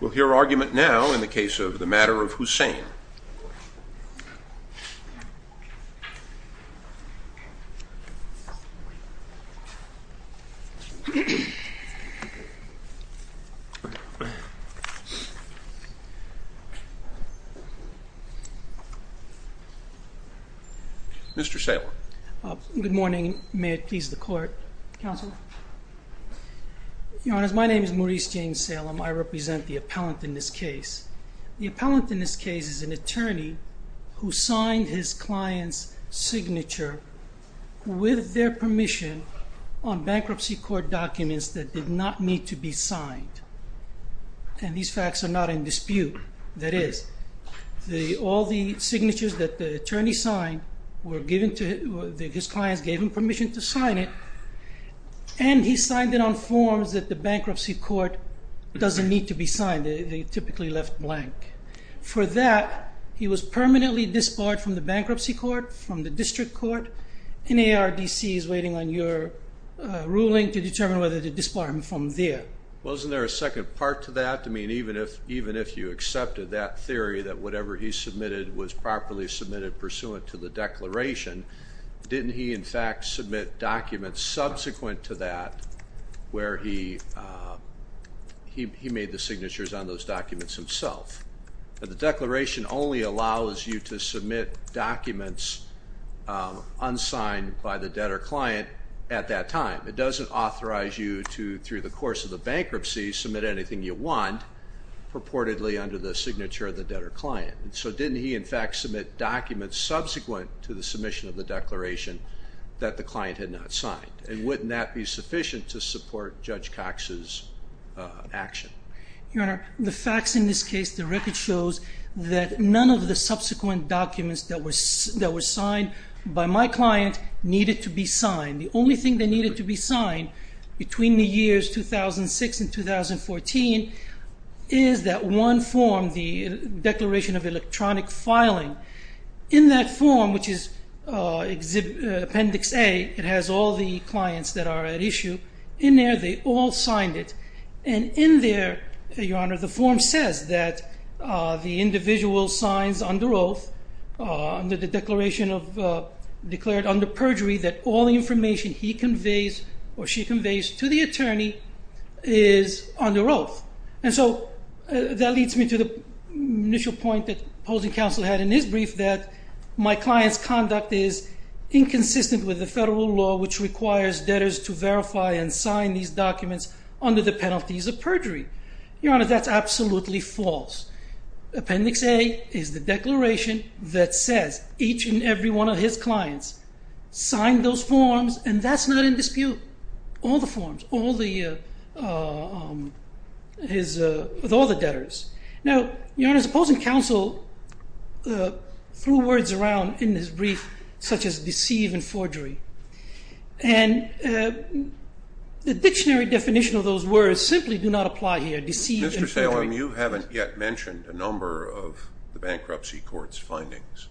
We'll hear argument now in the case of the matter of Husain. Mr. Salem. Good morning. May it please the Court. Counsel. Your Honor, my name is Maurice James Salem. I represent the appellant in this case. The appellant in this case is an attorney who signed his client's signature with their permission on bankruptcy court documents that did not need to be signed. And these facts are not in dispute. That is, all the signatures that the attorney signed were given to his clients, gave them permission to sign it. And he signed it on forms that the bankruptcy court doesn't need to be signed. They typically left blank. For that, he was permanently disbarred from the bankruptcy court, from the district court. NARDC is waiting on your ruling to determine whether to disbar him from there. Wasn't there a second part to that? Even if you accepted that theory that whatever he submitted was properly submitted pursuant to the declaration, didn't he in fact submit documents subsequent to that where he made the signatures on those documents himself? The declaration only allows you to submit documents unsigned by the debtor client at that time. It doesn't authorize you to, through the course of the bankruptcy, submit anything you want purportedly under the signature of the debtor client. So didn't he in fact submit documents subsequent to the submission of the declaration that the client had not signed? And wouldn't that be sufficient to support Judge Cox's action? Your Honor, the facts in this case, the record shows that none of the subsequent documents that were signed by my client needed to be signed. The only thing that needed to be signed between the years 2006 and 2014 is that one form, the Declaration of Electronic Filing. In that form, which is Appendix A, it has all the clients that are at issue. In there, they all signed it. And in there, Your Honor, the form says that the individual signs under oath, under the declaration of, declared under perjury that all the information he conveys or she conveys to the attorney is under oath. And so that leads me to the initial point that opposing counsel had in his brief that my client's conduct is inconsistent with the federal law, which requires debtors to verify and sign these documents under the penalties of perjury. Your Honor, that's absolutely false. Appendix A is the declaration that says each and every one of his clients signed those forms, and that's not in dispute. All the forms, all the debtors. Now, Your Honor, opposing counsel threw words around in his brief such as deceive and forgery. And the dictionary definition of those words simply do not apply here, deceive and forgery. Mr. Salem, you haven't yet mentioned a number of the Bankruptcy Court's findings.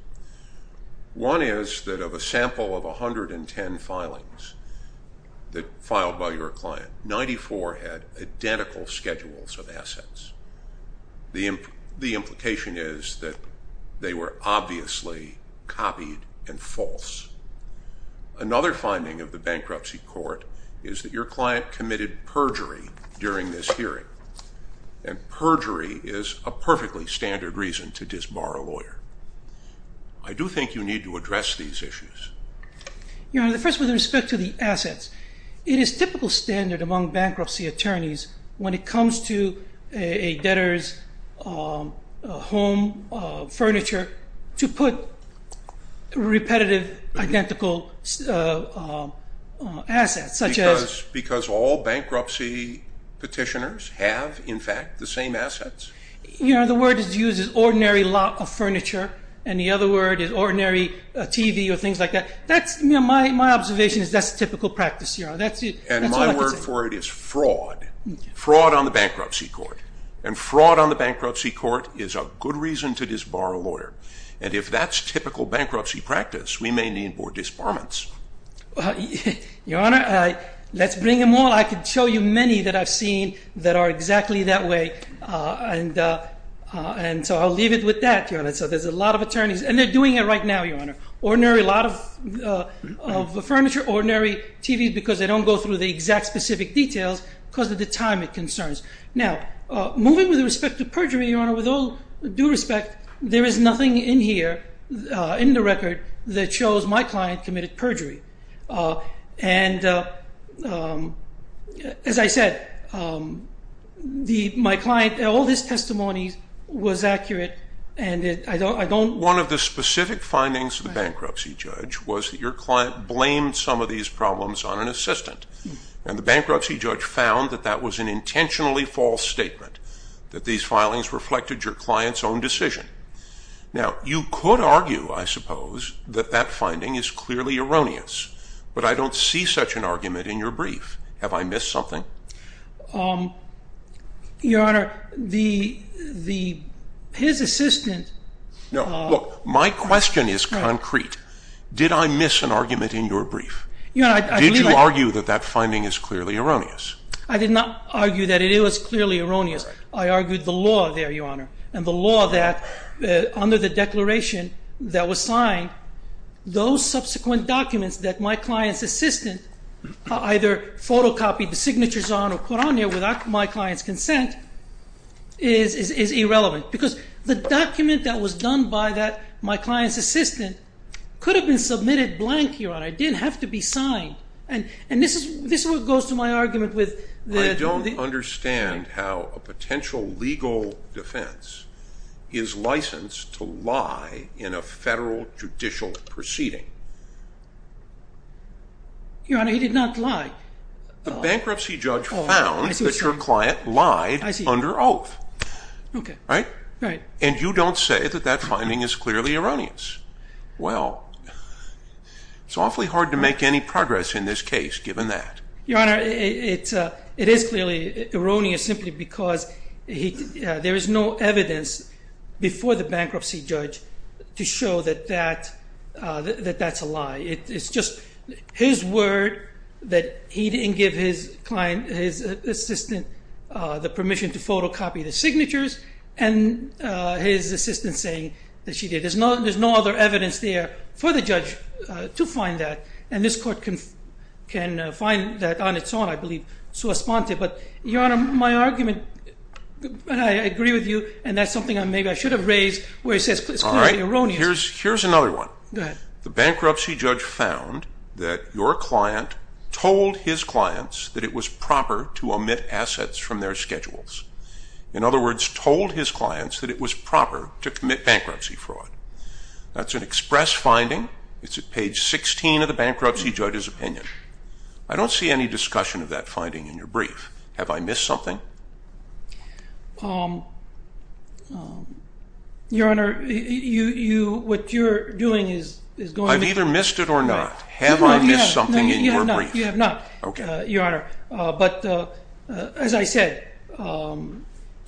One is that of a sample of 110 filings that filed by your client, 94 had identical schedules of assets. The implication is that they were obviously copied and false. Another finding of the Bankruptcy Court is that your client committed perjury during this hearing, and perjury is a perfectly standard reason to disbar a lawyer. I do think you need to address these issues. Your Honor, first with respect to the assets, it is typical standard among bankruptcy attorneys when it comes to a debtor's home, furniture, to put repetitive, identical assets, such as Because all bankruptcy petitioners have, in fact, the same assets. You know, the word is used as ordinary lot of furniture, and the other word is ordinary TV or things like that. That's, you know, my observation is that's typical practice, Your Honor. And my word for it is fraud, fraud on the Bankruptcy Court. And fraud on the Bankruptcy Court is a good reason to disbar a lawyer. And if that's typical bankruptcy practice, we may need more disbarments. Your Honor, let's bring them all. I could show you many that I've seen that are exactly that way, and so I'll leave it with that, Your Honor. So there's a lot of attorneys, and they're doing it right now, Your Honor. Ordinary lot of furniture, ordinary TVs because they don't go through the exact specific details because of the time it concerns. Now, moving with respect to perjury, Your Honor, with all due respect, there is nothing in here, in the record, that shows my client committed perjury. And as I said, my client, all his testimony was accurate, and I don't One of the specific findings of the bankruptcy judge was that your client blamed some of these problems on an assistant. And the bankruptcy judge found that that was an intentionally false statement, that these filings reflected your client's own decision. Now, you could argue, I suppose, that that finding is clearly erroneous, but I don't see such an argument in your brief. Have I missed something? Your Honor, his assistant No, look, my question is concrete. Did I miss an argument in your brief? Did you argue that that finding is clearly erroneous? I did not argue that it was clearly erroneous. I argued the law there, Your Honor, and the law that under the declaration that was signed, those subsequent documents that my client's assistant either photocopied the signatures on or put on there without my client's consent is irrelevant. Because the document that was done by my client's assistant could have been submitted blank, Your Honor. It didn't have to be signed. And this is what goes to my argument with the I don't understand how a potential legal defense is licensed to lie in a federal judicial proceeding. Your Honor, he did not lie. The bankruptcy judge found that your client lied under oath. Right? Right. And you don't say that that finding is clearly erroneous. Well, it's awfully hard to make any progress in this case given that. Your Honor, it is clearly erroneous simply because there is no evidence before the bankruptcy judge to show that that's a lie. It's just his word that he didn't give his assistant the permission to photocopy the signatures and his assistant saying that she did. There's no other evidence there for the judge to find that. And this court can find that on its own, I believe, sua sponte. But, Your Honor, my argument, I agree with you, and that's something maybe I should have raised where it says it's clearly erroneous. All right. Here's another one. Go ahead. The bankruptcy judge found that your client told his clients that it was proper to omit assets from their schedules. In other words, told his clients that it was proper to commit bankruptcy fraud. That's an express finding. It's at page 16 of the bankruptcy judge's opinion. I don't see any discussion of that finding in your brief. Have I missed something? Your Honor, what you're doing is going to be. I've either missed it or not. Have I missed something in your brief? No, you have not. Okay. Your Honor, but as I said, the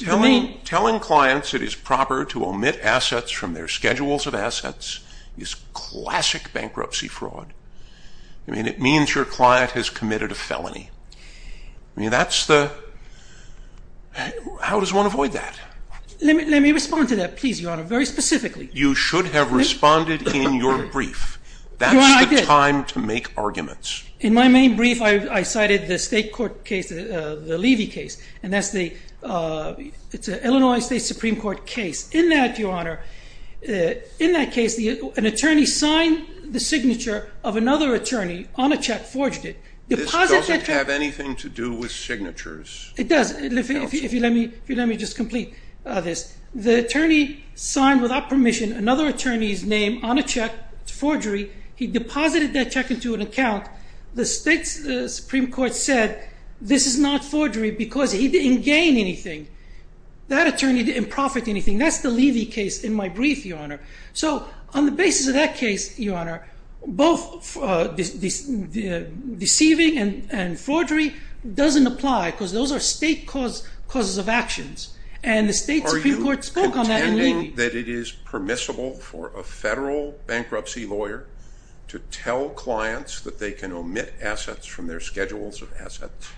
main. Telling clients it is proper to omit assets from their schedules of assets is classic bankruptcy fraud. I mean, it means your client has committed a felony. I mean, that's the... how does one avoid that? Let me respond to that, please, Your Honor, very specifically. You should have responded in your brief. Your Honor, I did. That's the time to make arguments. In my main brief, I cited the state court case, the Levy case, and that's the Illinois State Supreme Court case. In that, Your Honor, in that case, an attorney signed the signature of another attorney on a check, forged it. This doesn't have anything to do with signatures. It does. If you let me just complete this. The attorney signed, without permission, another attorney's name on a check. It's forgery. He deposited that check into an account. The state Supreme Court said this is not forgery because he didn't gain anything. That attorney didn't profit anything. That's the Levy case in my brief, Your Honor. So on the basis of that case, Your Honor, both deceiving and forgery doesn't apply because those are state causes of actions. And the state Supreme Court spoke on that in Levy. Are you pretending that it is permissible for a federal bankruptcy lawyer to tell clients that they can omit assets from their schedules of assets?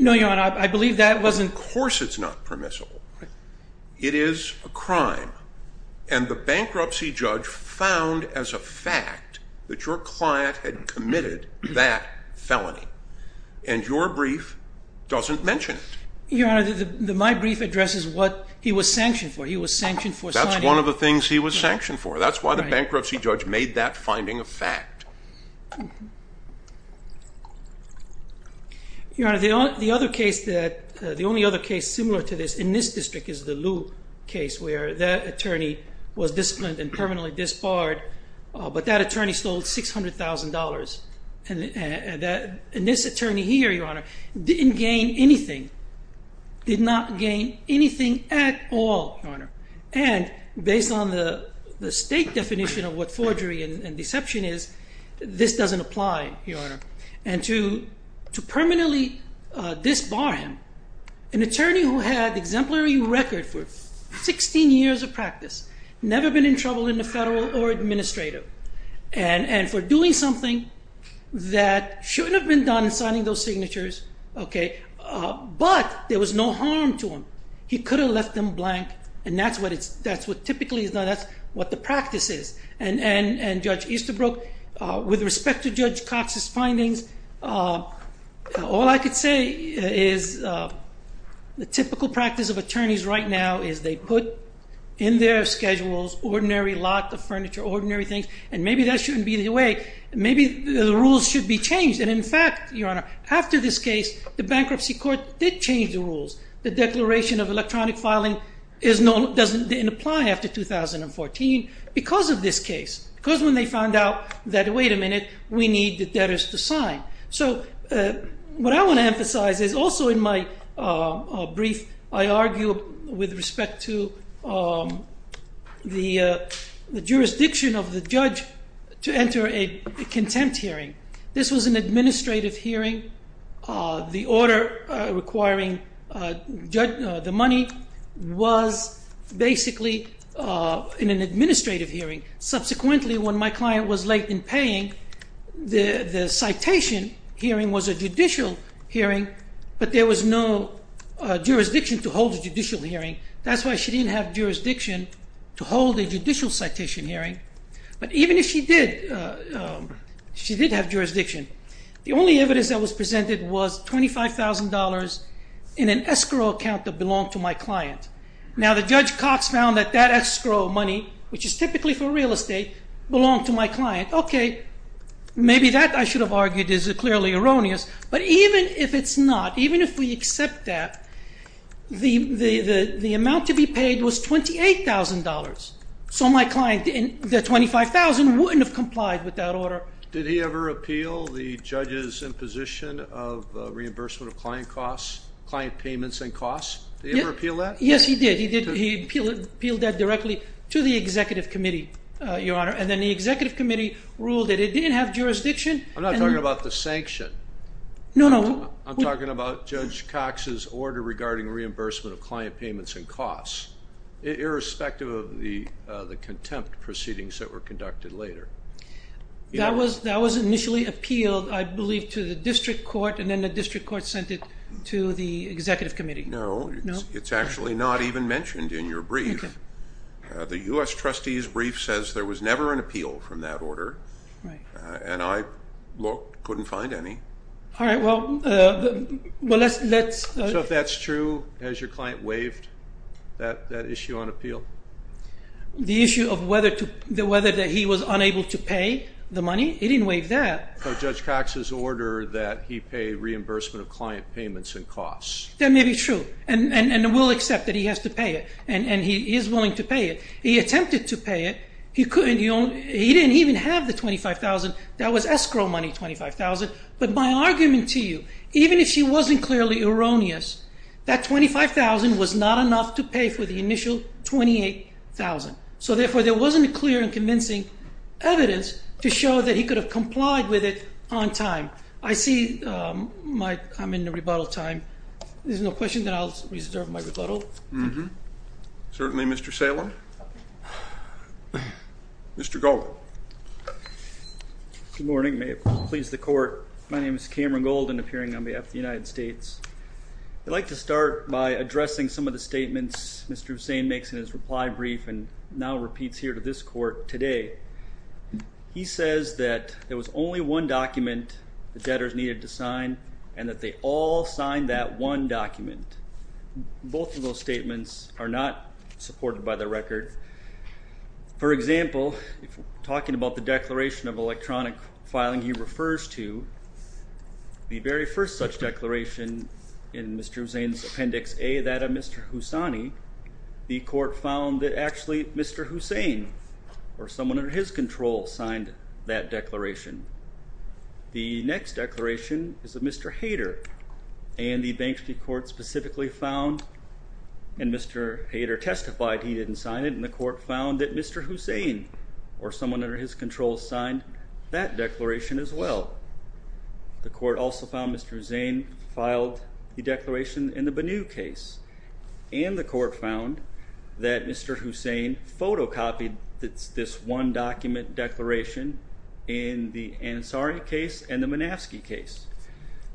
No, Your Honor. I believe that wasn't. Of course it's not permissible. It is a crime. And the bankruptcy judge found as a fact that your client had committed that felony. And your brief doesn't mention it. Your Honor, my brief addresses what he was sanctioned for. He was sanctioned for signing. That's one of the things he was sanctioned for. That's why the bankruptcy judge made that finding a fact. Your Honor, the only other case similar to this in this district is the Lew case where that attorney was disciplined and permanently disbarred. But that attorney stole $600,000. And this attorney here, Your Honor, didn't gain anything. Did not gain anything at all, Your Honor. And based on the state definition of what forgery and deception is, this doesn't apply, Your Honor. And to permanently disbar him, an attorney who had exemplary record for 16 years of practice, never been in trouble in the federal or administrative, and for doing something that shouldn't have been done, signing those signatures, okay, but there was no harm to him. He could have left them blank. And that's what typically is done. That's what the practice is. And Judge Easterbrook, with respect to Judge Cox's findings, all I could say is the typical practice of attorneys right now is they put in their schedules ordinary lot of furniture, ordinary things, and maybe that shouldn't be the way. Maybe the rules should be changed. And in fact, Your Honor, after this case, the bankruptcy court did change the rules. The Declaration of Electronic Filing doesn't apply after 2014 because of this case. Because when they found out that, wait a minute, we need the debtors to sign. So what I want to emphasize is also in my brief, I argue with respect to the jurisdiction of the judge to enter a contempt hearing. This was an administrative hearing. The order requiring the money was basically in an administrative hearing. Subsequently, when my client was late in paying, the citation hearing was a judicial hearing, but there was no jurisdiction to hold a judicial hearing. That's why she didn't have jurisdiction to hold a judicial citation hearing. But even if she did, she did have jurisdiction. The only evidence that was presented was $25,000 in an escrow account that belonged to my client. Now the Judge Cox found that that escrow money, which is typically for real estate, belonged to my client. Okay, maybe that I should have argued is clearly erroneous. But even if it's not, even if we accept that, the amount to be paid was $28,000. So my client, the $25,000, wouldn't have complied with that order. Did he ever appeal the judge's imposition of reimbursement of client costs, client payments and costs? Did he ever appeal that? Yes, he did. He appealed that directly to the executive committee, Your Honor. And then the executive committee ruled that it didn't have jurisdiction. I'm not talking about the sanction. No, no. I'm talking about Judge Cox's order regarding reimbursement of client payments and costs, irrespective of the contempt proceedings that were conducted later. That was initially appealed, I believe, to the district court, and then the district court sent it to the executive committee. No, it's actually not even mentioned in your brief. The U.S. trustee's brief says there was never an appeal from that order, and I couldn't find any. All right, well, let's- So if that's true, has your client waived that issue on appeal? The issue of whether that he was unable to pay the money? He didn't waive that. Judge Cox's order that he pay reimbursement of client payments and costs. That may be true, and we'll accept that he has to pay it, and he is willing to pay it. He attempted to pay it. He couldn't. He didn't even have the $25,000. That was escrow money, $25,000. But my argument to you, even if he wasn't clearly erroneous, that $25,000 was not enough to pay for the initial $28,000. So, therefore, there wasn't clear and convincing evidence to show that he could have complied with it on time. I see I'm in the rebuttal time. If there's no question, then I'll reserve my rebuttal. Mm-hmm. Certainly, Mr. Salem. Mr. Golden. Good morning. May it please the Court. My name is Cameron Golden, appearing on behalf of the United States. I'd like to start by addressing some of the statements Mr. Hussain makes in his reply brief and now repeats here to this Court today. He says that there was only one document the debtors needed to sign and that they all signed that one document. Both of those statements are not supported by the record. For example, talking about the declaration of electronic filing he refers to, the very first such declaration in Mr. Hussain's appendix A, that of Mr. Hussaini, the Court found that actually Mr. Hussain or someone under his control signed that declaration. The next declaration is of Mr. Hayter and the Banksy Court specifically found and Mr. Hayter testified he didn't sign it and the Court found that Mr. Hussain or someone under his control signed that declaration as well. The Court also found Mr. Hussain filed the declaration in the Banu case. And the Court found that Mr. Hussain photocopied this one document declaration in the Ansari case and the Manaski case.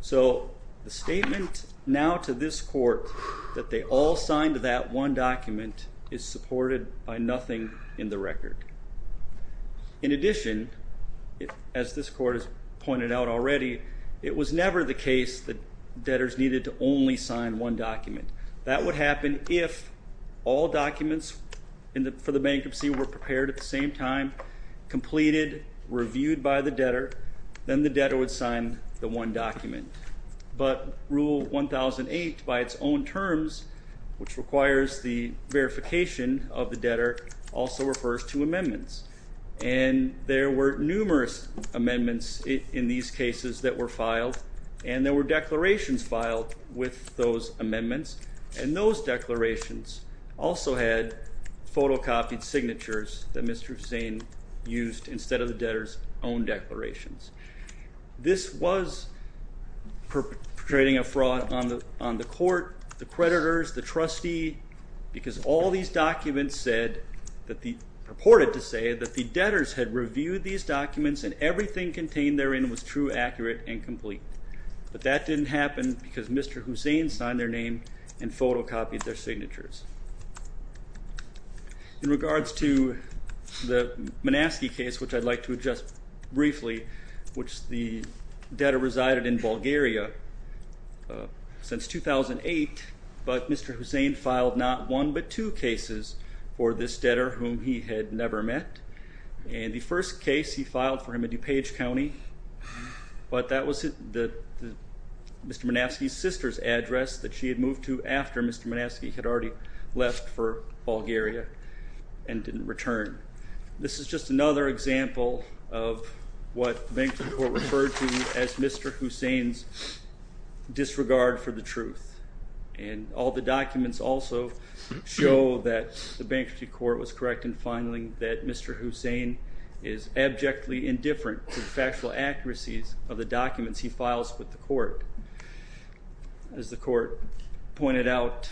So the statement now to this Court that they all signed that one document is supported by nothing in the record. In addition, as this Court has pointed out already, it was never the case that debtors needed to only sign one document. That would happen if all documents for the bankruptcy were prepared at the same time, completed, reviewed by the debtor, then the debtor would sign the one document. But Rule 1008 by its own terms, which requires the verification of the debtor, also refers to amendments. And there were numerous amendments in these cases that were filed and there were declarations filed with those amendments and those declarations also had photocopied signatures that Mr. Hussain used instead of the debtor's own declarations. This was perpetrating a fraud on the Court, the creditors, the trustee, because all these documents purported to say that the debtors had reviewed these documents and everything contained therein was true, accurate, and complete. But that didn't happen because Mr. Hussain signed their name and photocopied their signatures. In regards to the Manaski case, which I'd like to address briefly, which the debtor resided in Bulgaria since 2008, but Mr. Hussain filed not one but two cases for this debtor whom he had never met. And the first case he filed for him in DuPage County, but that was Mr. Manaski's sister's address that she had moved to after Mr. Manaski had already left for Bulgaria and didn't return. This is just another example of what the Bankruptcy Court referred to as Mr. Hussain's disregard for the truth. And all the documents also show that the Bankruptcy Court was correct in finding that Mr. Hussain is abjectly indifferent to the factual accuracies of the documents he files with the Court. As the Court pointed out,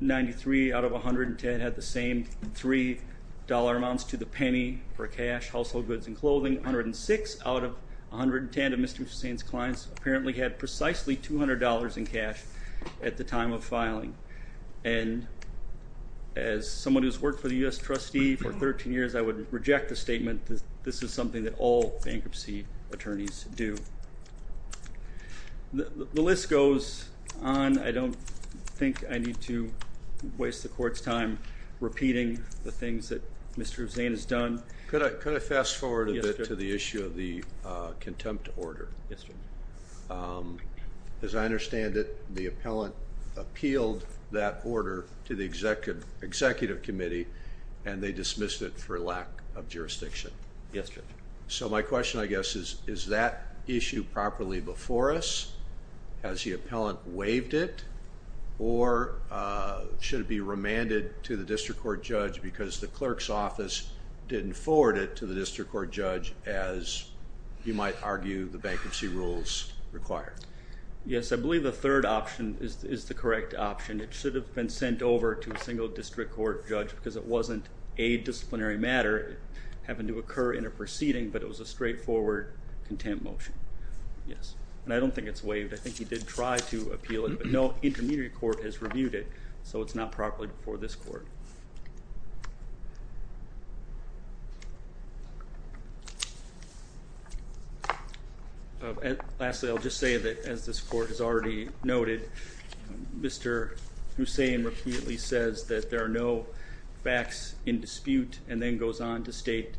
93 out of 110 had the same $3 amounts to the penny for cash, household goods, and clothing. 106 out of 110 of Mr. Hussain's clients apparently had precisely $200 in cash at the time of filing. And as someone who's worked for the U.S. Trustee for 13 years, I would reject the statement that this is something that all bankruptcy attorneys do. The list goes on. I don't think I need to waste the Court's time repeating the things that Mr. Hussain has done. Could I fast forward a bit to the issue of the contempt order? Yes, Judge. As I understand it, the appellant appealed that order to the Executive Committee, and they dismissed it for lack of jurisdiction. Yes, Judge. So my question, I guess, is, is that issue properly before us? Has the appellant waived it, or should it be remanded to the District Court Judge because the Clerk's Office didn't forward it to the District Court Judge as you might argue the bankruptcy rules require? Yes, I believe the third option is the correct option. It should have been sent over to a single District Court Judge because it wasn't a disciplinary matter. It happened to occur in a proceeding, but it was a straightforward contempt motion. Yes, and I don't think it's waived. I think he did try to appeal it, but no intermediate court has reviewed it, so it's not properly before this Court. Lastly, I'll just say that, as this Court has already noted, Mr. Hussain repeatedly says that there are no facts in dispute and then goes on to state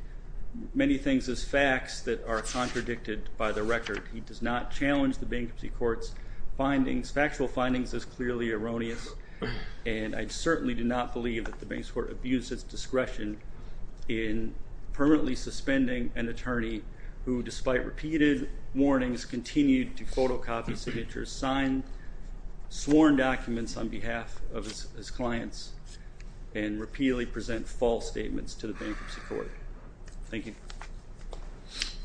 many things as facts that are contradicted by the record. He does not challenge the Bankruptcy Court's findings. Factual findings is clearly erroneous, and I certainly do not believe that the Bankruptcy Court abused its discretion in permanently suspending an attorney who, despite repeated warnings, continued to photocopy signatures, sign sworn documents on behalf of his clients, and repeatedly present false statements to the Bankruptcy Court. Thank you.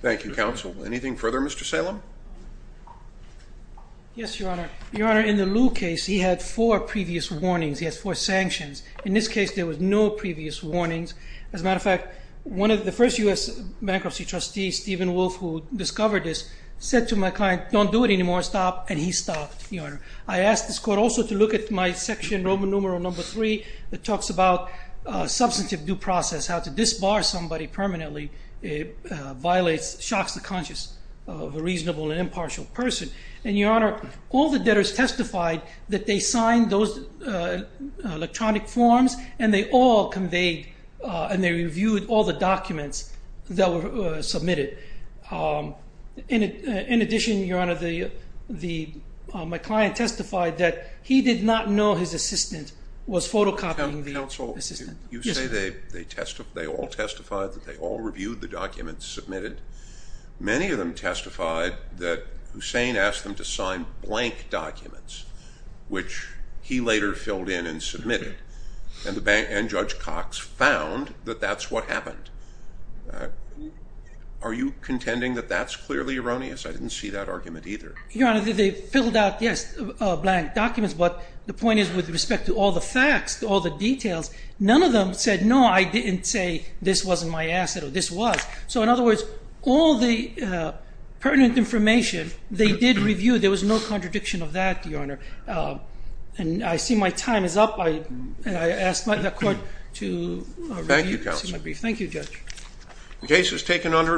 Thank you, Counsel. Anything further, Mr. Salem? Yes, Your Honor. Your Honor, in the Lew case, he had four previous warnings. He has four sanctions. In this case, there were no previous warnings. As a matter of fact, one of the first U.S. bankruptcy trustees, Stephen Wolf, who discovered this, said to my client, don't do it anymore. Stop. And he stopped, Your Honor. I asked this Court also to look at my section, Roman numeral number three, that talks about substantive due process, how to disbar somebody permanently violates, shocks the conscience of a reasonable and impartial person. And, Your Honor, all the debtors testified that they signed those electronic forms and they all conveyed and they reviewed all the documents that were submitted. In addition, Your Honor, my client testified that he did not know his assistant was photocopying the assistant. Counsel, you say they all testified, that they all reviewed the documents submitted. Many of them testified that Hussein asked them to sign blank documents, which he later filled in and submitted. And Judge Cox found that that's what happened. Are you contending that that's clearly erroneous? I didn't see that argument either. Your Honor, they filled out, yes, blank documents. But the point is, with respect to all the facts, all the details, none of them said, no, I didn't say this wasn't my asset or this was. So, in other words, all the pertinent information, they did review. There was no contradiction of that, Your Honor. And I see my time is up. I ask the Court to review. Thank you, Counsel. Thank you, Judge. The case is taken under advisement.